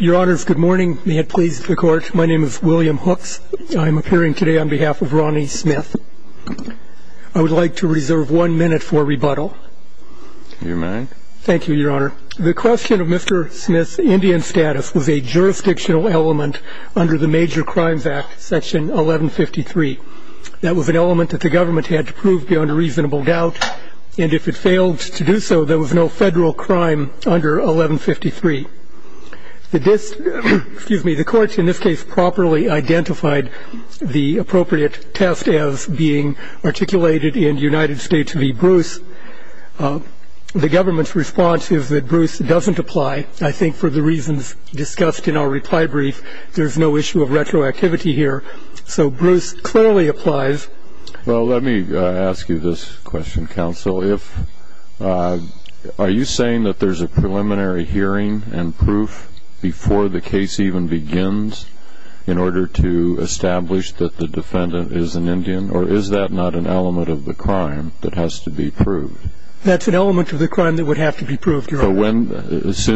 Your honors, good morning. May it please the court. My name is William Hooks. I'm appearing today on behalf of Ronnie Smith. I would like to reserve one minute for rebuttal. You may. Thank you, your honor. The question of Mr. Smith's Indian status was a jurisdictional element under the Major Crimes Act, Section 1153. That was an element that the government had to prove beyond a reasonable doubt, and if it failed to do so, there was no federal crime under 1153. The court in this case properly identified the appropriate test as being articulated in United States v. Bruce. The government's response is that Bruce doesn't apply. I think for the reasons discussed in our reply brief, there's no issue of retroactivity here. So Bruce clearly applies. Well, let me ask you this question, counsel. Are you saying that there's a preliminary hearing and proof before the case even begins in order to establish that the defendant is an Indian, or is that not an element of the crime that has to be proved? That's an element of the crime that would have to be proved, your honor. So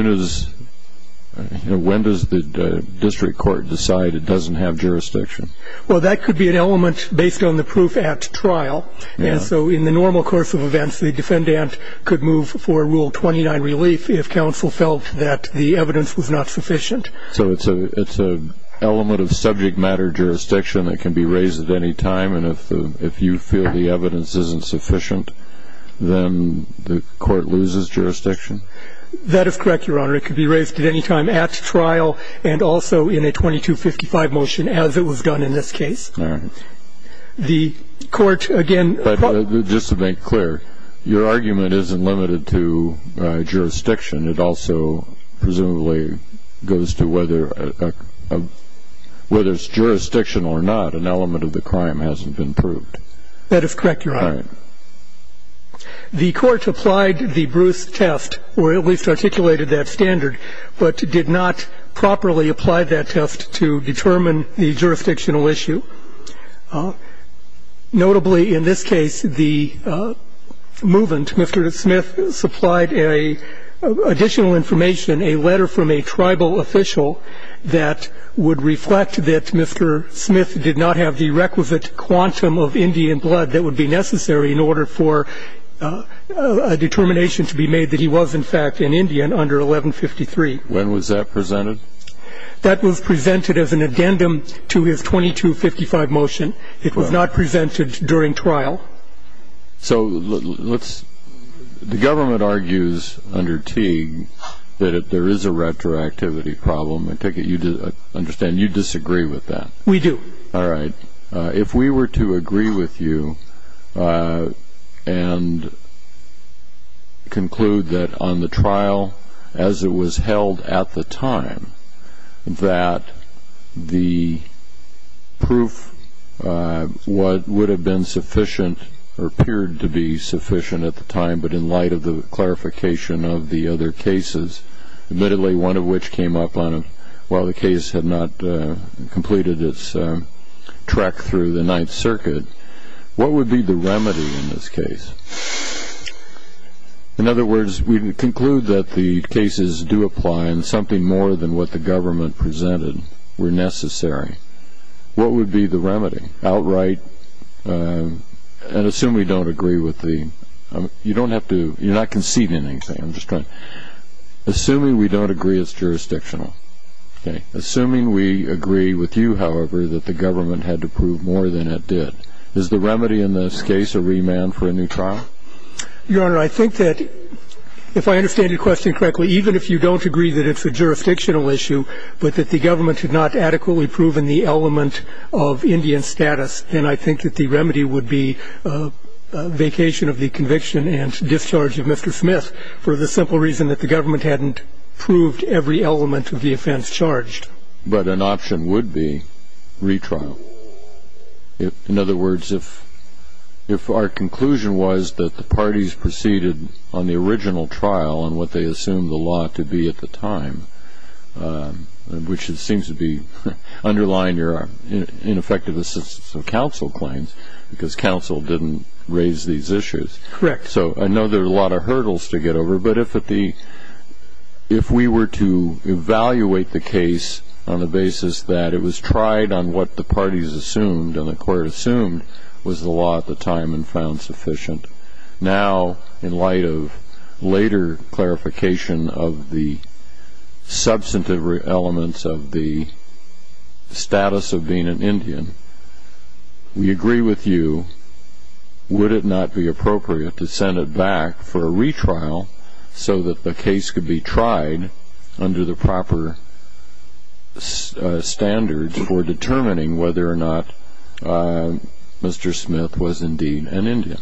when does the district court decide it doesn't have jurisdiction? Well, that could be an element based on the proof at trial, and so in the normal course of events the defendant could move for Rule 29 relief if counsel felt that the evidence was not sufficient. So it's an element of subject matter jurisdiction that can be raised at any time, and if you feel the evidence isn't sufficient, then the court loses jurisdiction? That is correct, your honor. It could be raised at any time at trial and also in a 2255 motion as it was done in this case. All right. The court, again ---- But just to make clear, your argument isn't limited to jurisdiction. It also presumably goes to whether it's jurisdictional or not, an element of the crime hasn't been proved. That is correct, your honor. All right. The court applied the Bruce test, or at least articulated that standard, but did not properly apply that test to determine the jurisdictional issue. Notably, in this case, the movant, Mr. Smith, supplied additional information, a letter from a tribal official that would reflect that Mr. Smith did not have the requisite quantum of Indian blood that would be necessary in order for a determination to be made that he was, in fact, an Indian under 1153. When was that presented? That was presented as an addendum to his 2255 motion. It was not presented during trial. So let's ---- the government argues under Teague that there is a retroactivity problem. I understand you disagree with that. We do. All right. If we were to agree with you and conclude that on the trial, as it was held at the time, that the proof would have been sufficient or appeared to be sufficient at the time, but in light of the clarification of the other cases, admittedly, one of which came up on a ---- while the case had not completed its trek through the Ninth Circuit, what would be the remedy in this case? In other words, we conclude that the cases do apply and something more than what the government presented were necessary. What would be the remedy outright? And assume we don't agree with the ---- you don't have to ---- you're not conceding anything. I'm just trying to ---- Okay. Assuming we agree with you, however, that the government had to prove more than it did, is the remedy in this case a remand for a new trial? Your Honor, I think that if I understand your question correctly, even if you don't agree that it's a jurisdictional issue, but that the government had not adequately proven the element of Indian status, then I think that the remedy would be vacation of the conviction and discharge of Mr. Smith for the simple reason that the government hadn't proved every element of the offense charged. But an option would be retrial. In other words, if our conclusion was that the parties proceeded on the original trial and what they assumed the law to be at the time, which seems to be underlying your ineffective assistance of counsel claims, because counsel didn't raise these issues. Correct. So I know there are a lot of hurdles to get over, but if we were to evaluate the case on the basis that it was tried on what the parties assumed and the court assumed was the law at the time and found sufficient, now in light of later clarification of the substantive elements of the status of being an Indian, we agree with you, would it not be appropriate to send it back for a retrial so that the case could be tried under the proper standards for determining whether or not Mr. Smith was indeed an Indian?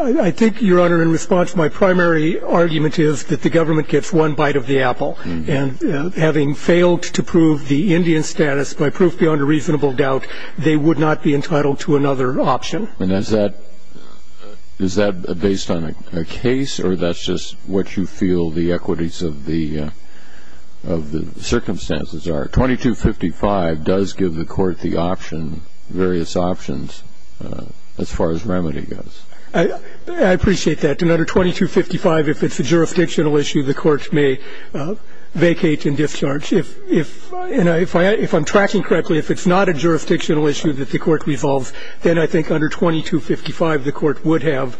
I think, Your Honor, in response, my primary argument is that the government gets one bite of the apple. And having failed to prove the Indian status by proof beyond a reasonable doubt, they would not be entitled to another option. And is that based on a case or that's just what you feel the equities of the circumstances are? 2255 does give the court the option, various options, as far as remedy goes. I appreciate that. I think under 2255, if it's a jurisdictional issue, the court may vacate and discharge. If I'm tracking correctly, if it's not a jurisdictional issue that the court resolves, then I think under 2255 the court would have,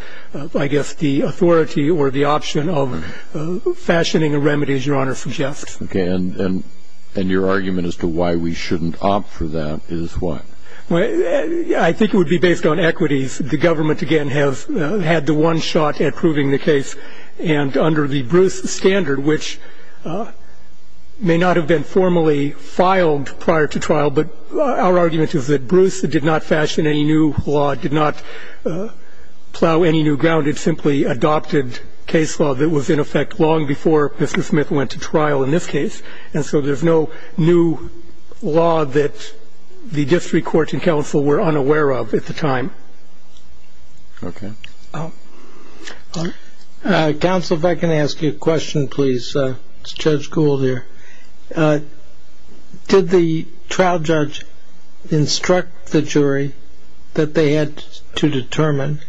I guess, the authority or the option of fashioning a remedy, as Your Honor suggests. And your argument as to why we shouldn't opt for that is what? I think it would be based on equities. I think it would be based on the fact that the case is not a new case. The government, again, has had the one shot at proving the case. And under the Bruce standard, which may not have been formally filed prior to trial, but our argument is that Bruce did not fashion any new law, did not plow any new ground. It simply adopted case law that was in effect long before Mr. Smith went to trial in this case, and so there's no new law that the district court and council were unaware of at the time. Okay. Counsel, if I can ask you a question, please. It's Judge Gould here. Did the trial judge instruct the jury that they had to determine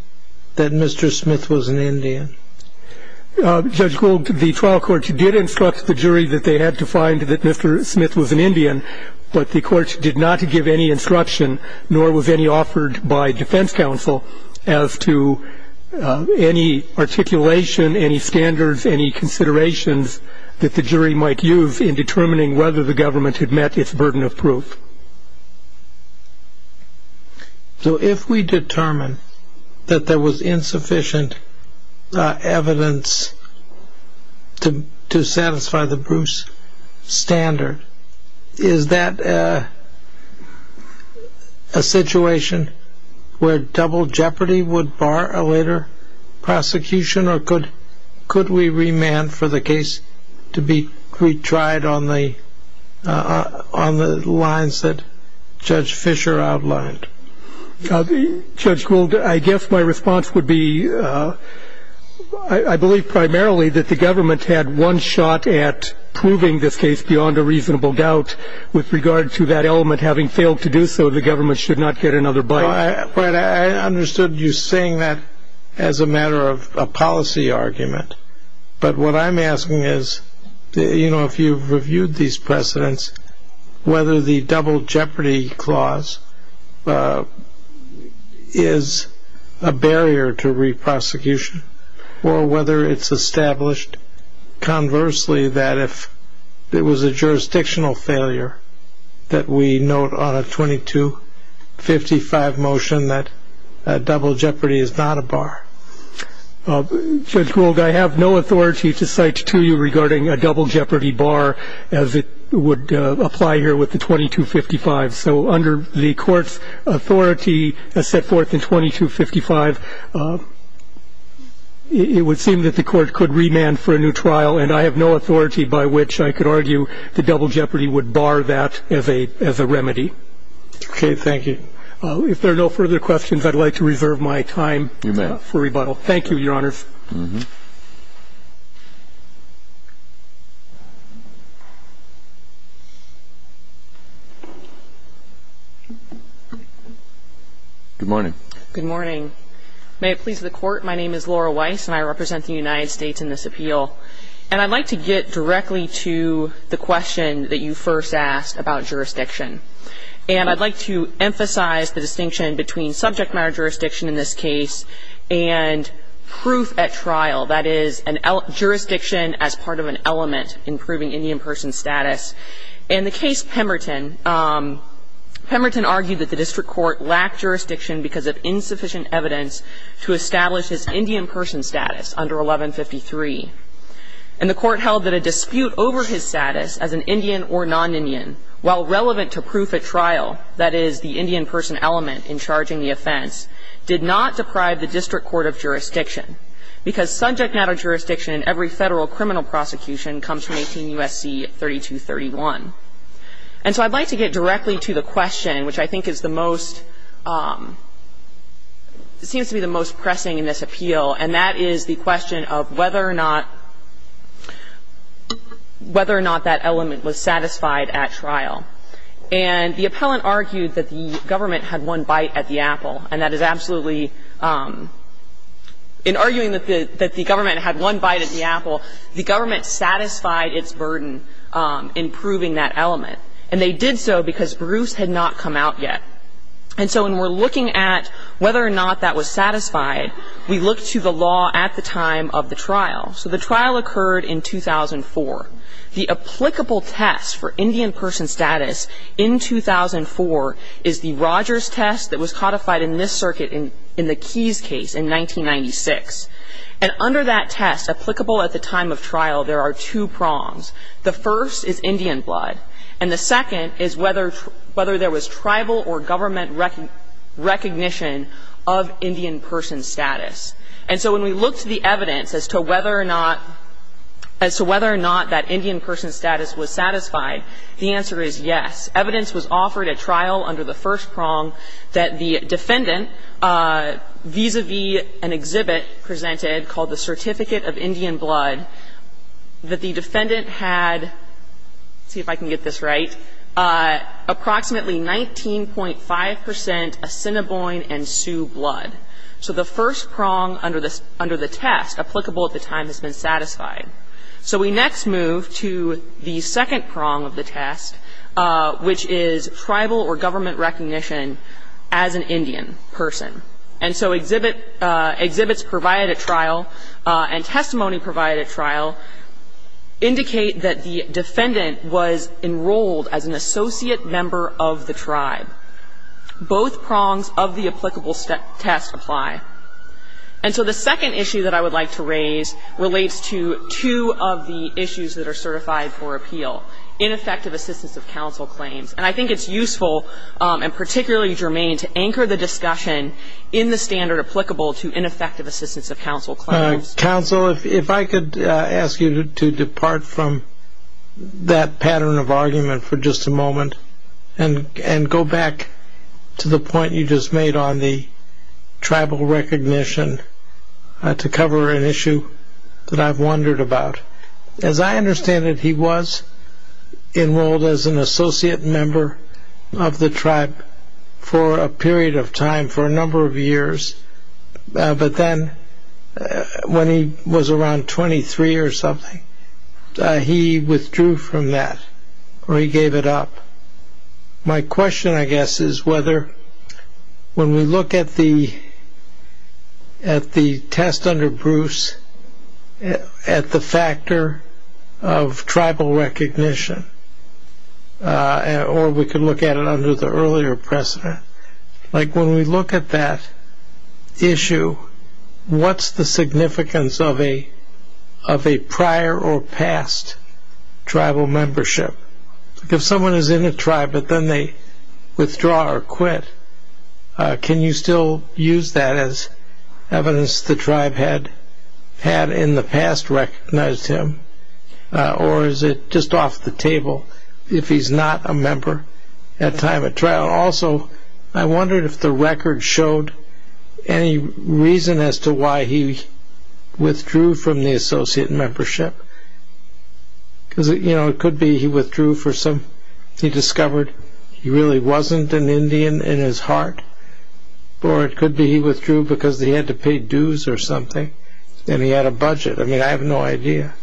that Mr. Smith was an Indian? Judge Gould, the trial court did instruct the jury that they had to find that Mr. Smith was an Indian, but the court did not give any instruction, nor was any offered by defense counsel, as to any articulation, any standards, any considerations that the jury might use in determining whether the government had met its burden of proof. So if we determine that there was insufficient evidence to satisfy the Bruce standard, is that a situation where double jeopardy would bar a later prosecution, or could we remand for the case to be retried on the lines that Judge Fisher outlined? Judge Gould, I guess my response would be I believe primarily that the government had one shot at proving this case beyond a reasonable doubt. With regard to that element having failed to do so, the government should not get another bite. I understood you saying that as a matter of a policy argument, but what I'm asking is if you've reviewed these precedents, whether the double jeopardy clause is a barrier to re-prosecution, or whether it's established conversely that if it was a jurisdictional failure that we note on a 2255 motion that double jeopardy is not a bar. Judge Gould, I have no authority to cite to you regarding a double jeopardy bar as it would apply here with the 2255. So under the court's authority as set forth in 2255, it would seem that the court could remand for a new trial, and I have no authority by which I could argue the double jeopardy would bar that as a remedy. Okay. Thank you. If there are no further questions, I'd like to reserve my time for rebuttal. Thank you, Your Honors. Good morning. Good morning. May it please the Court, my name is Laura Weiss, and I represent the United States in this appeal, and I'd like to get directly to the question that you first asked about jurisdiction. And I'd like to emphasize the distinction between subject matter jurisdiction in this case and proof at trial, that is, jurisdiction as part of an element in proving Indian person status. In the case Pemberton, Pemberton argued that the district court lacked jurisdiction because of insufficient evidence to establish his Indian person status under 1153. And the court held that a dispute over his status as an Indian or non-Indian, while relevant to proof at trial, that is, the Indian person element in charging the offense, did not deprive the district court of jurisdiction, because subject matter jurisdiction in every federal criminal prosecution comes from 18 U.S.C. 3231. And so I'd like to get directly to the question, which I think is the most – seems to be the most pressing in this appeal, and that is the question of whether or not – whether or not that element was satisfied at trial. And the appellant argued that the government had one bite at the apple, and that is absolutely – in arguing that the government had one bite at the apple, the government satisfied its burden in proving that element. And they did so because Bruce had not come out yet. And so when we're looking at whether or not that was satisfied, we look to the law at the time of the trial. So the trial occurred in 2004. The applicable test for Indian person status in 2004 is the Rogers test that was codified in this circuit in the Keys case in 1996. And under that test, applicable at the time of trial, there are two prongs. The first is Indian blood, and the second is whether – whether there was tribal or government recognition of Indian person status. And so when we look to the evidence as to whether or not – as to whether or not that Indian person status was satisfied, the answer is yes. Evidence was offered at trial under the first prong that the defendant, vis-à-vis an exhibit presented called the Certificate of Indian Blood, that the defendant had – let's see if I can get this right – approximately 19.5 percent Assiniboine and Sioux blood. So the first prong under the test, applicable at the time, has been satisfied. So we next move to the second prong of the test, which is tribal or government recognition as an Indian person. And so exhibits provided at trial and testimony provided at trial indicate that the defendant was enrolled as an associate member of the tribe. Both prongs of the applicable test apply. And so the second issue that I would like to raise relates to two of the issues that are certified for appeal, ineffective assistance of counsel claims. And I think it's useful and particularly germane to anchor the discussion in the standard applicable to ineffective assistance of counsel claims. Counsel, if I could ask you to depart from that pattern of argument for just a moment and go back to the point you just made on the tribal recognition to cover an issue that I've wondered about. As I understand it, he was enrolled as an associate member of the tribe for a period of time, for a number of years. But then when he was around 23 or something, he withdrew from that or he gave it up. My question, I guess, is whether when we look at the test under Bruce, at the factor of tribal recognition, or we can look at it under the earlier precedent, like when we look at that issue, what's the significance of a prior or past tribal membership? If someone is in a tribe but then they withdraw or quit, can you still use that as evidence the tribe had in the past recognized him? Or is it just off the table if he's not a member at time of trial? Also, I wondered if the record showed any reason as to why he withdrew from the associate membership. It could be he withdrew because he discovered he really wasn't an Indian in his heart, or it could be he withdrew because he had to pay dues or something and he had a budget. I mean, I have no idea.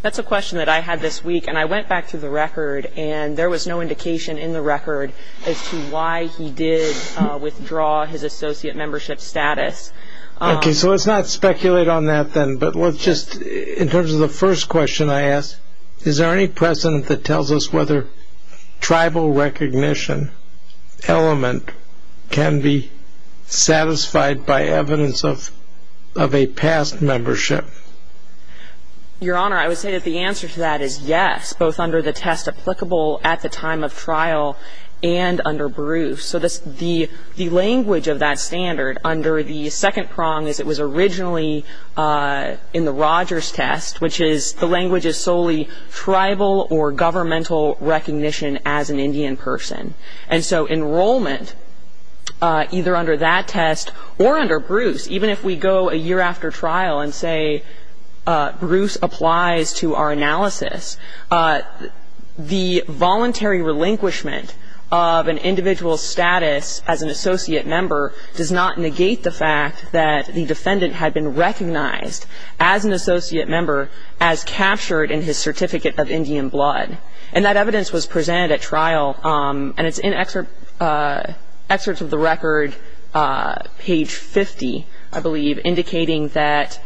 That's a question that I had this week, and I went back to the record, and there was no indication in the record as to why he did withdraw his associate membership status. Okay. So let's not speculate on that then, but let's just, in terms of the first question I asked, is there any precedent that tells us whether tribal recognition element can be satisfied by evidence of a past membership? Your Honor, I would say that the answer to that is yes, both under the test applicable at the time of trial and under Bruce. So the language of that standard under the second prong is it was originally in the Rogers test, which is the language is solely tribal or governmental recognition as an Indian person. And so enrollment, either under that test or under Bruce, even if we go a year after trial and say Bruce applies to our analysis, the voluntary relinquishment of an individual's status as an associate member does not negate the fact that the defendant had been recognized as an associate member as captured in his certificate of Indian blood. And that evidence was presented at trial, and it's in excerpts of the record, page 50, I believe, indicating that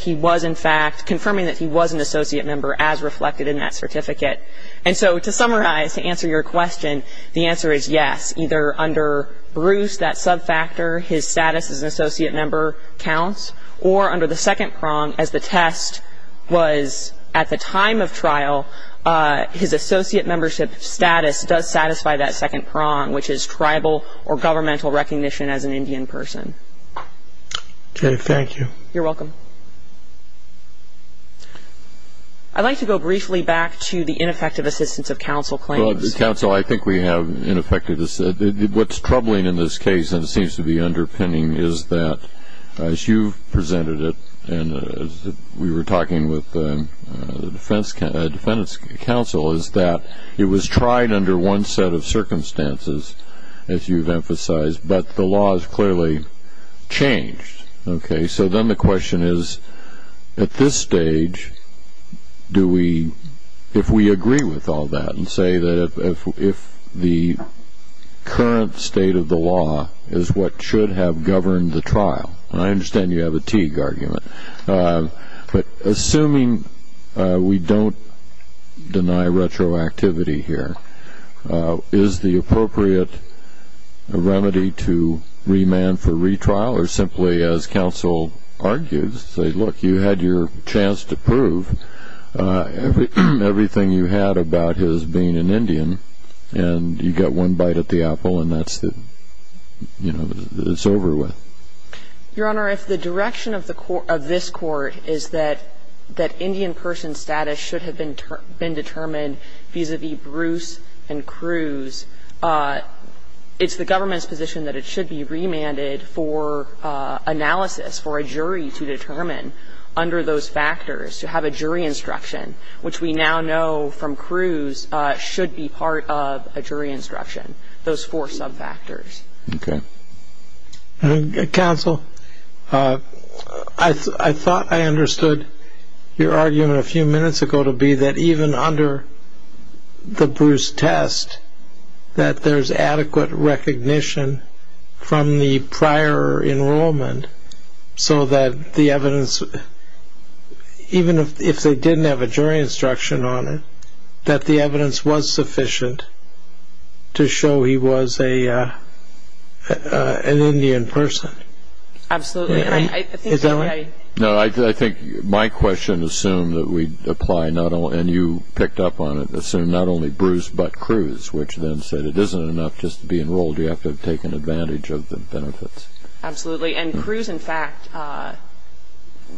he was, in fact, confirming that he was an associate member as reflected in that certificate. And so to summarize, to answer your question, the answer is yes. Either under Bruce, that subfactor, his status as an associate member counts, or under the second prong as the test was at the time of trial, his associate membership status does satisfy that second prong, which is tribal or governmental recognition as an Indian person. Okay. Thank you. You're welcome. I'd like to go briefly back to the ineffective assistance of counsel claims. Counsel, I think we have ineffective. What's troubling in this case, and it seems to be underpinning, is that as you've presented it and we were talking with the defendant's counsel, is that it was tried under one set of circumstances, as you've emphasized, but the law has clearly changed. Okay. So then the question is, at this stage, do we, if we agree with all that and say that if the current state of the law is what should have governed the trial, and I understand you have a Teague argument, but assuming we don't deny retroactivity here, is the appropriate remedy to remand for retrial or simply, as counsel argues, say, look, you had your chance to prove everything you had about his being an Indian and you got one bite at the apple and that's the, you know, it's over with? Your Honor, if the direction of the court, of this court, is that Indian person status should have been determined vis-a-vis Bruce and Cruz, it's the government's position that it should be remanded for analysis, for a jury to determine under those factors, to have a jury instruction, which we now know from Cruz should be part of a jury instruction, those four sub-factors. Okay. Counsel, I thought I understood your argument a few minutes ago to be that even under the Bruce test, that there's adequate recognition from the prior enrollment so that the evidence, even if they didn't have a jury instruction on it, that the evidence was sufficient to show he was an Indian person. Absolutely. No, I think my question assumed that we'd apply, and you picked up on it, assume not only Bruce but Cruz, which then said it isn't enough just to be enrolled, you have to have taken advantage of the benefits. Absolutely. And Cruz, in fact,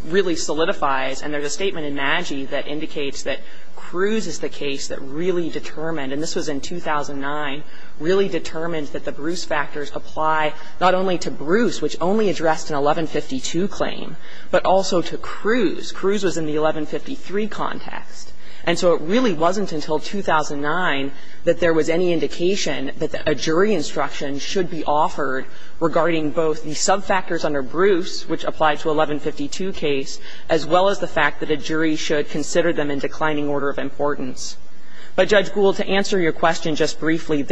really solidifies, and there's a statement in MAGI that indicates that Cruz is the case that really determined, and this was in 2009, really determined that the Bruce factors apply not only to Bruce, which only addressed an 1152 claim, but also to Cruz. Cruz was in the 1153 context. And so it really wasn't until 2009 that there was any indication that a jury instruction should be offered regarding both the subfactors under Bruce, which applied to 1152 case, as well as the fact that a jury should consider them in declining order of importance. But, Judge Gould, to answer your question just briefly,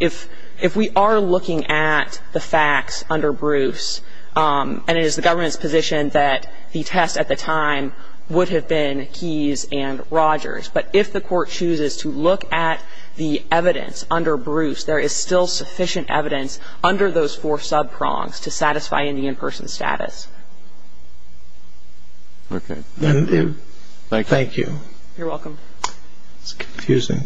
if we are looking at the facts under Bruce, and it is the government's position that the test at the time would have been Keys and Rogers, but if the Court chooses to look at the evidence under Bruce, there is still sufficient evidence under those four subprongs to satisfy any in-person status. Okay. Thank you. You're welcome. It's confusing.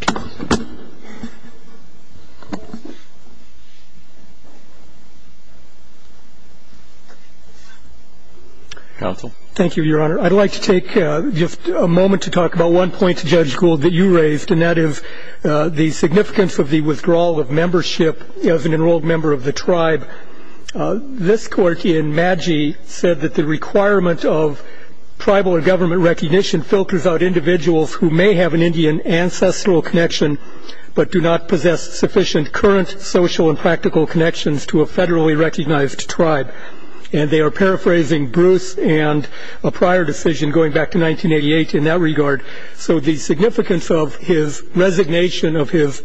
Counsel. Thank you, Your Honor. I'd like to take just a moment to talk about one point, Judge Gould, that you raised, and that is the significance of the withdrawal of membership as an enrolled member of the tribe. This Court in Madgee said that the requirement of tribal and government recognition filters out individuals who may have an Indian ancestral connection, but do not possess sufficient current social and practical connections to a federally recognized tribe. And they are paraphrasing Bruce and a prior decision going back to 1988 in that regard. So the significance of his resignation of his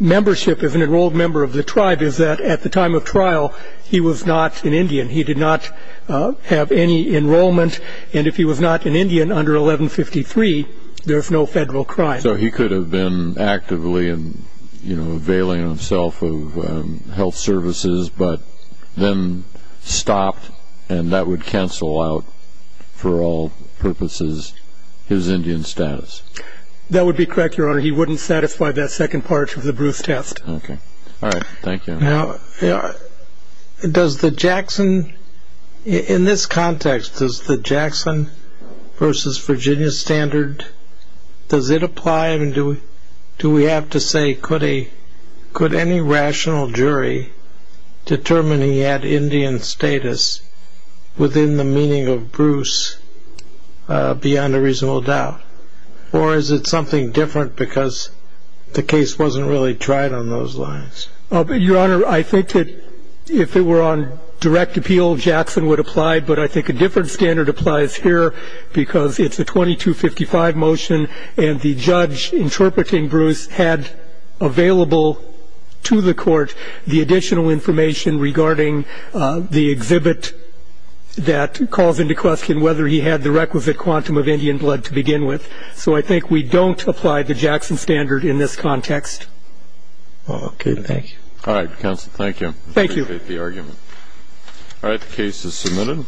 membership as an enrolled member of the tribe is that at the time of trial, he was not an Indian. He did not have any enrollment, and if he was not an Indian under 1153, there is no federal crime. So he could have been actively, you know, availing himself of health services, but then stopped, and that would cancel out, for all purposes, his Indian status. That would be correct, Your Honor. He wouldn't satisfy that second part of the Bruce test. Okay. All right. Thank you. Now, does the Jackson, in this context, does the Jackson versus Virginia standard, does it apply? Do we have to say could any rational jury determine he had Indian status within the meaning of Bruce beyond a reasonable doubt? Or is it something different because the case wasn't really tried on those lines? Your Honor, I think that if it were on direct appeal, Jackson would apply, but I think a different standard applies here because it's a 2255 motion, and the judge interpreting Bruce had available to the court the additional information regarding the exhibit that calls into question whether he had the requisite quantum of Indian blood to begin with. So I think we don't apply the Jackson standard in this context. Okay. Thank you. All right, counsel, thank you. Thank you. Appreciate the argument. All right. The case is submitted.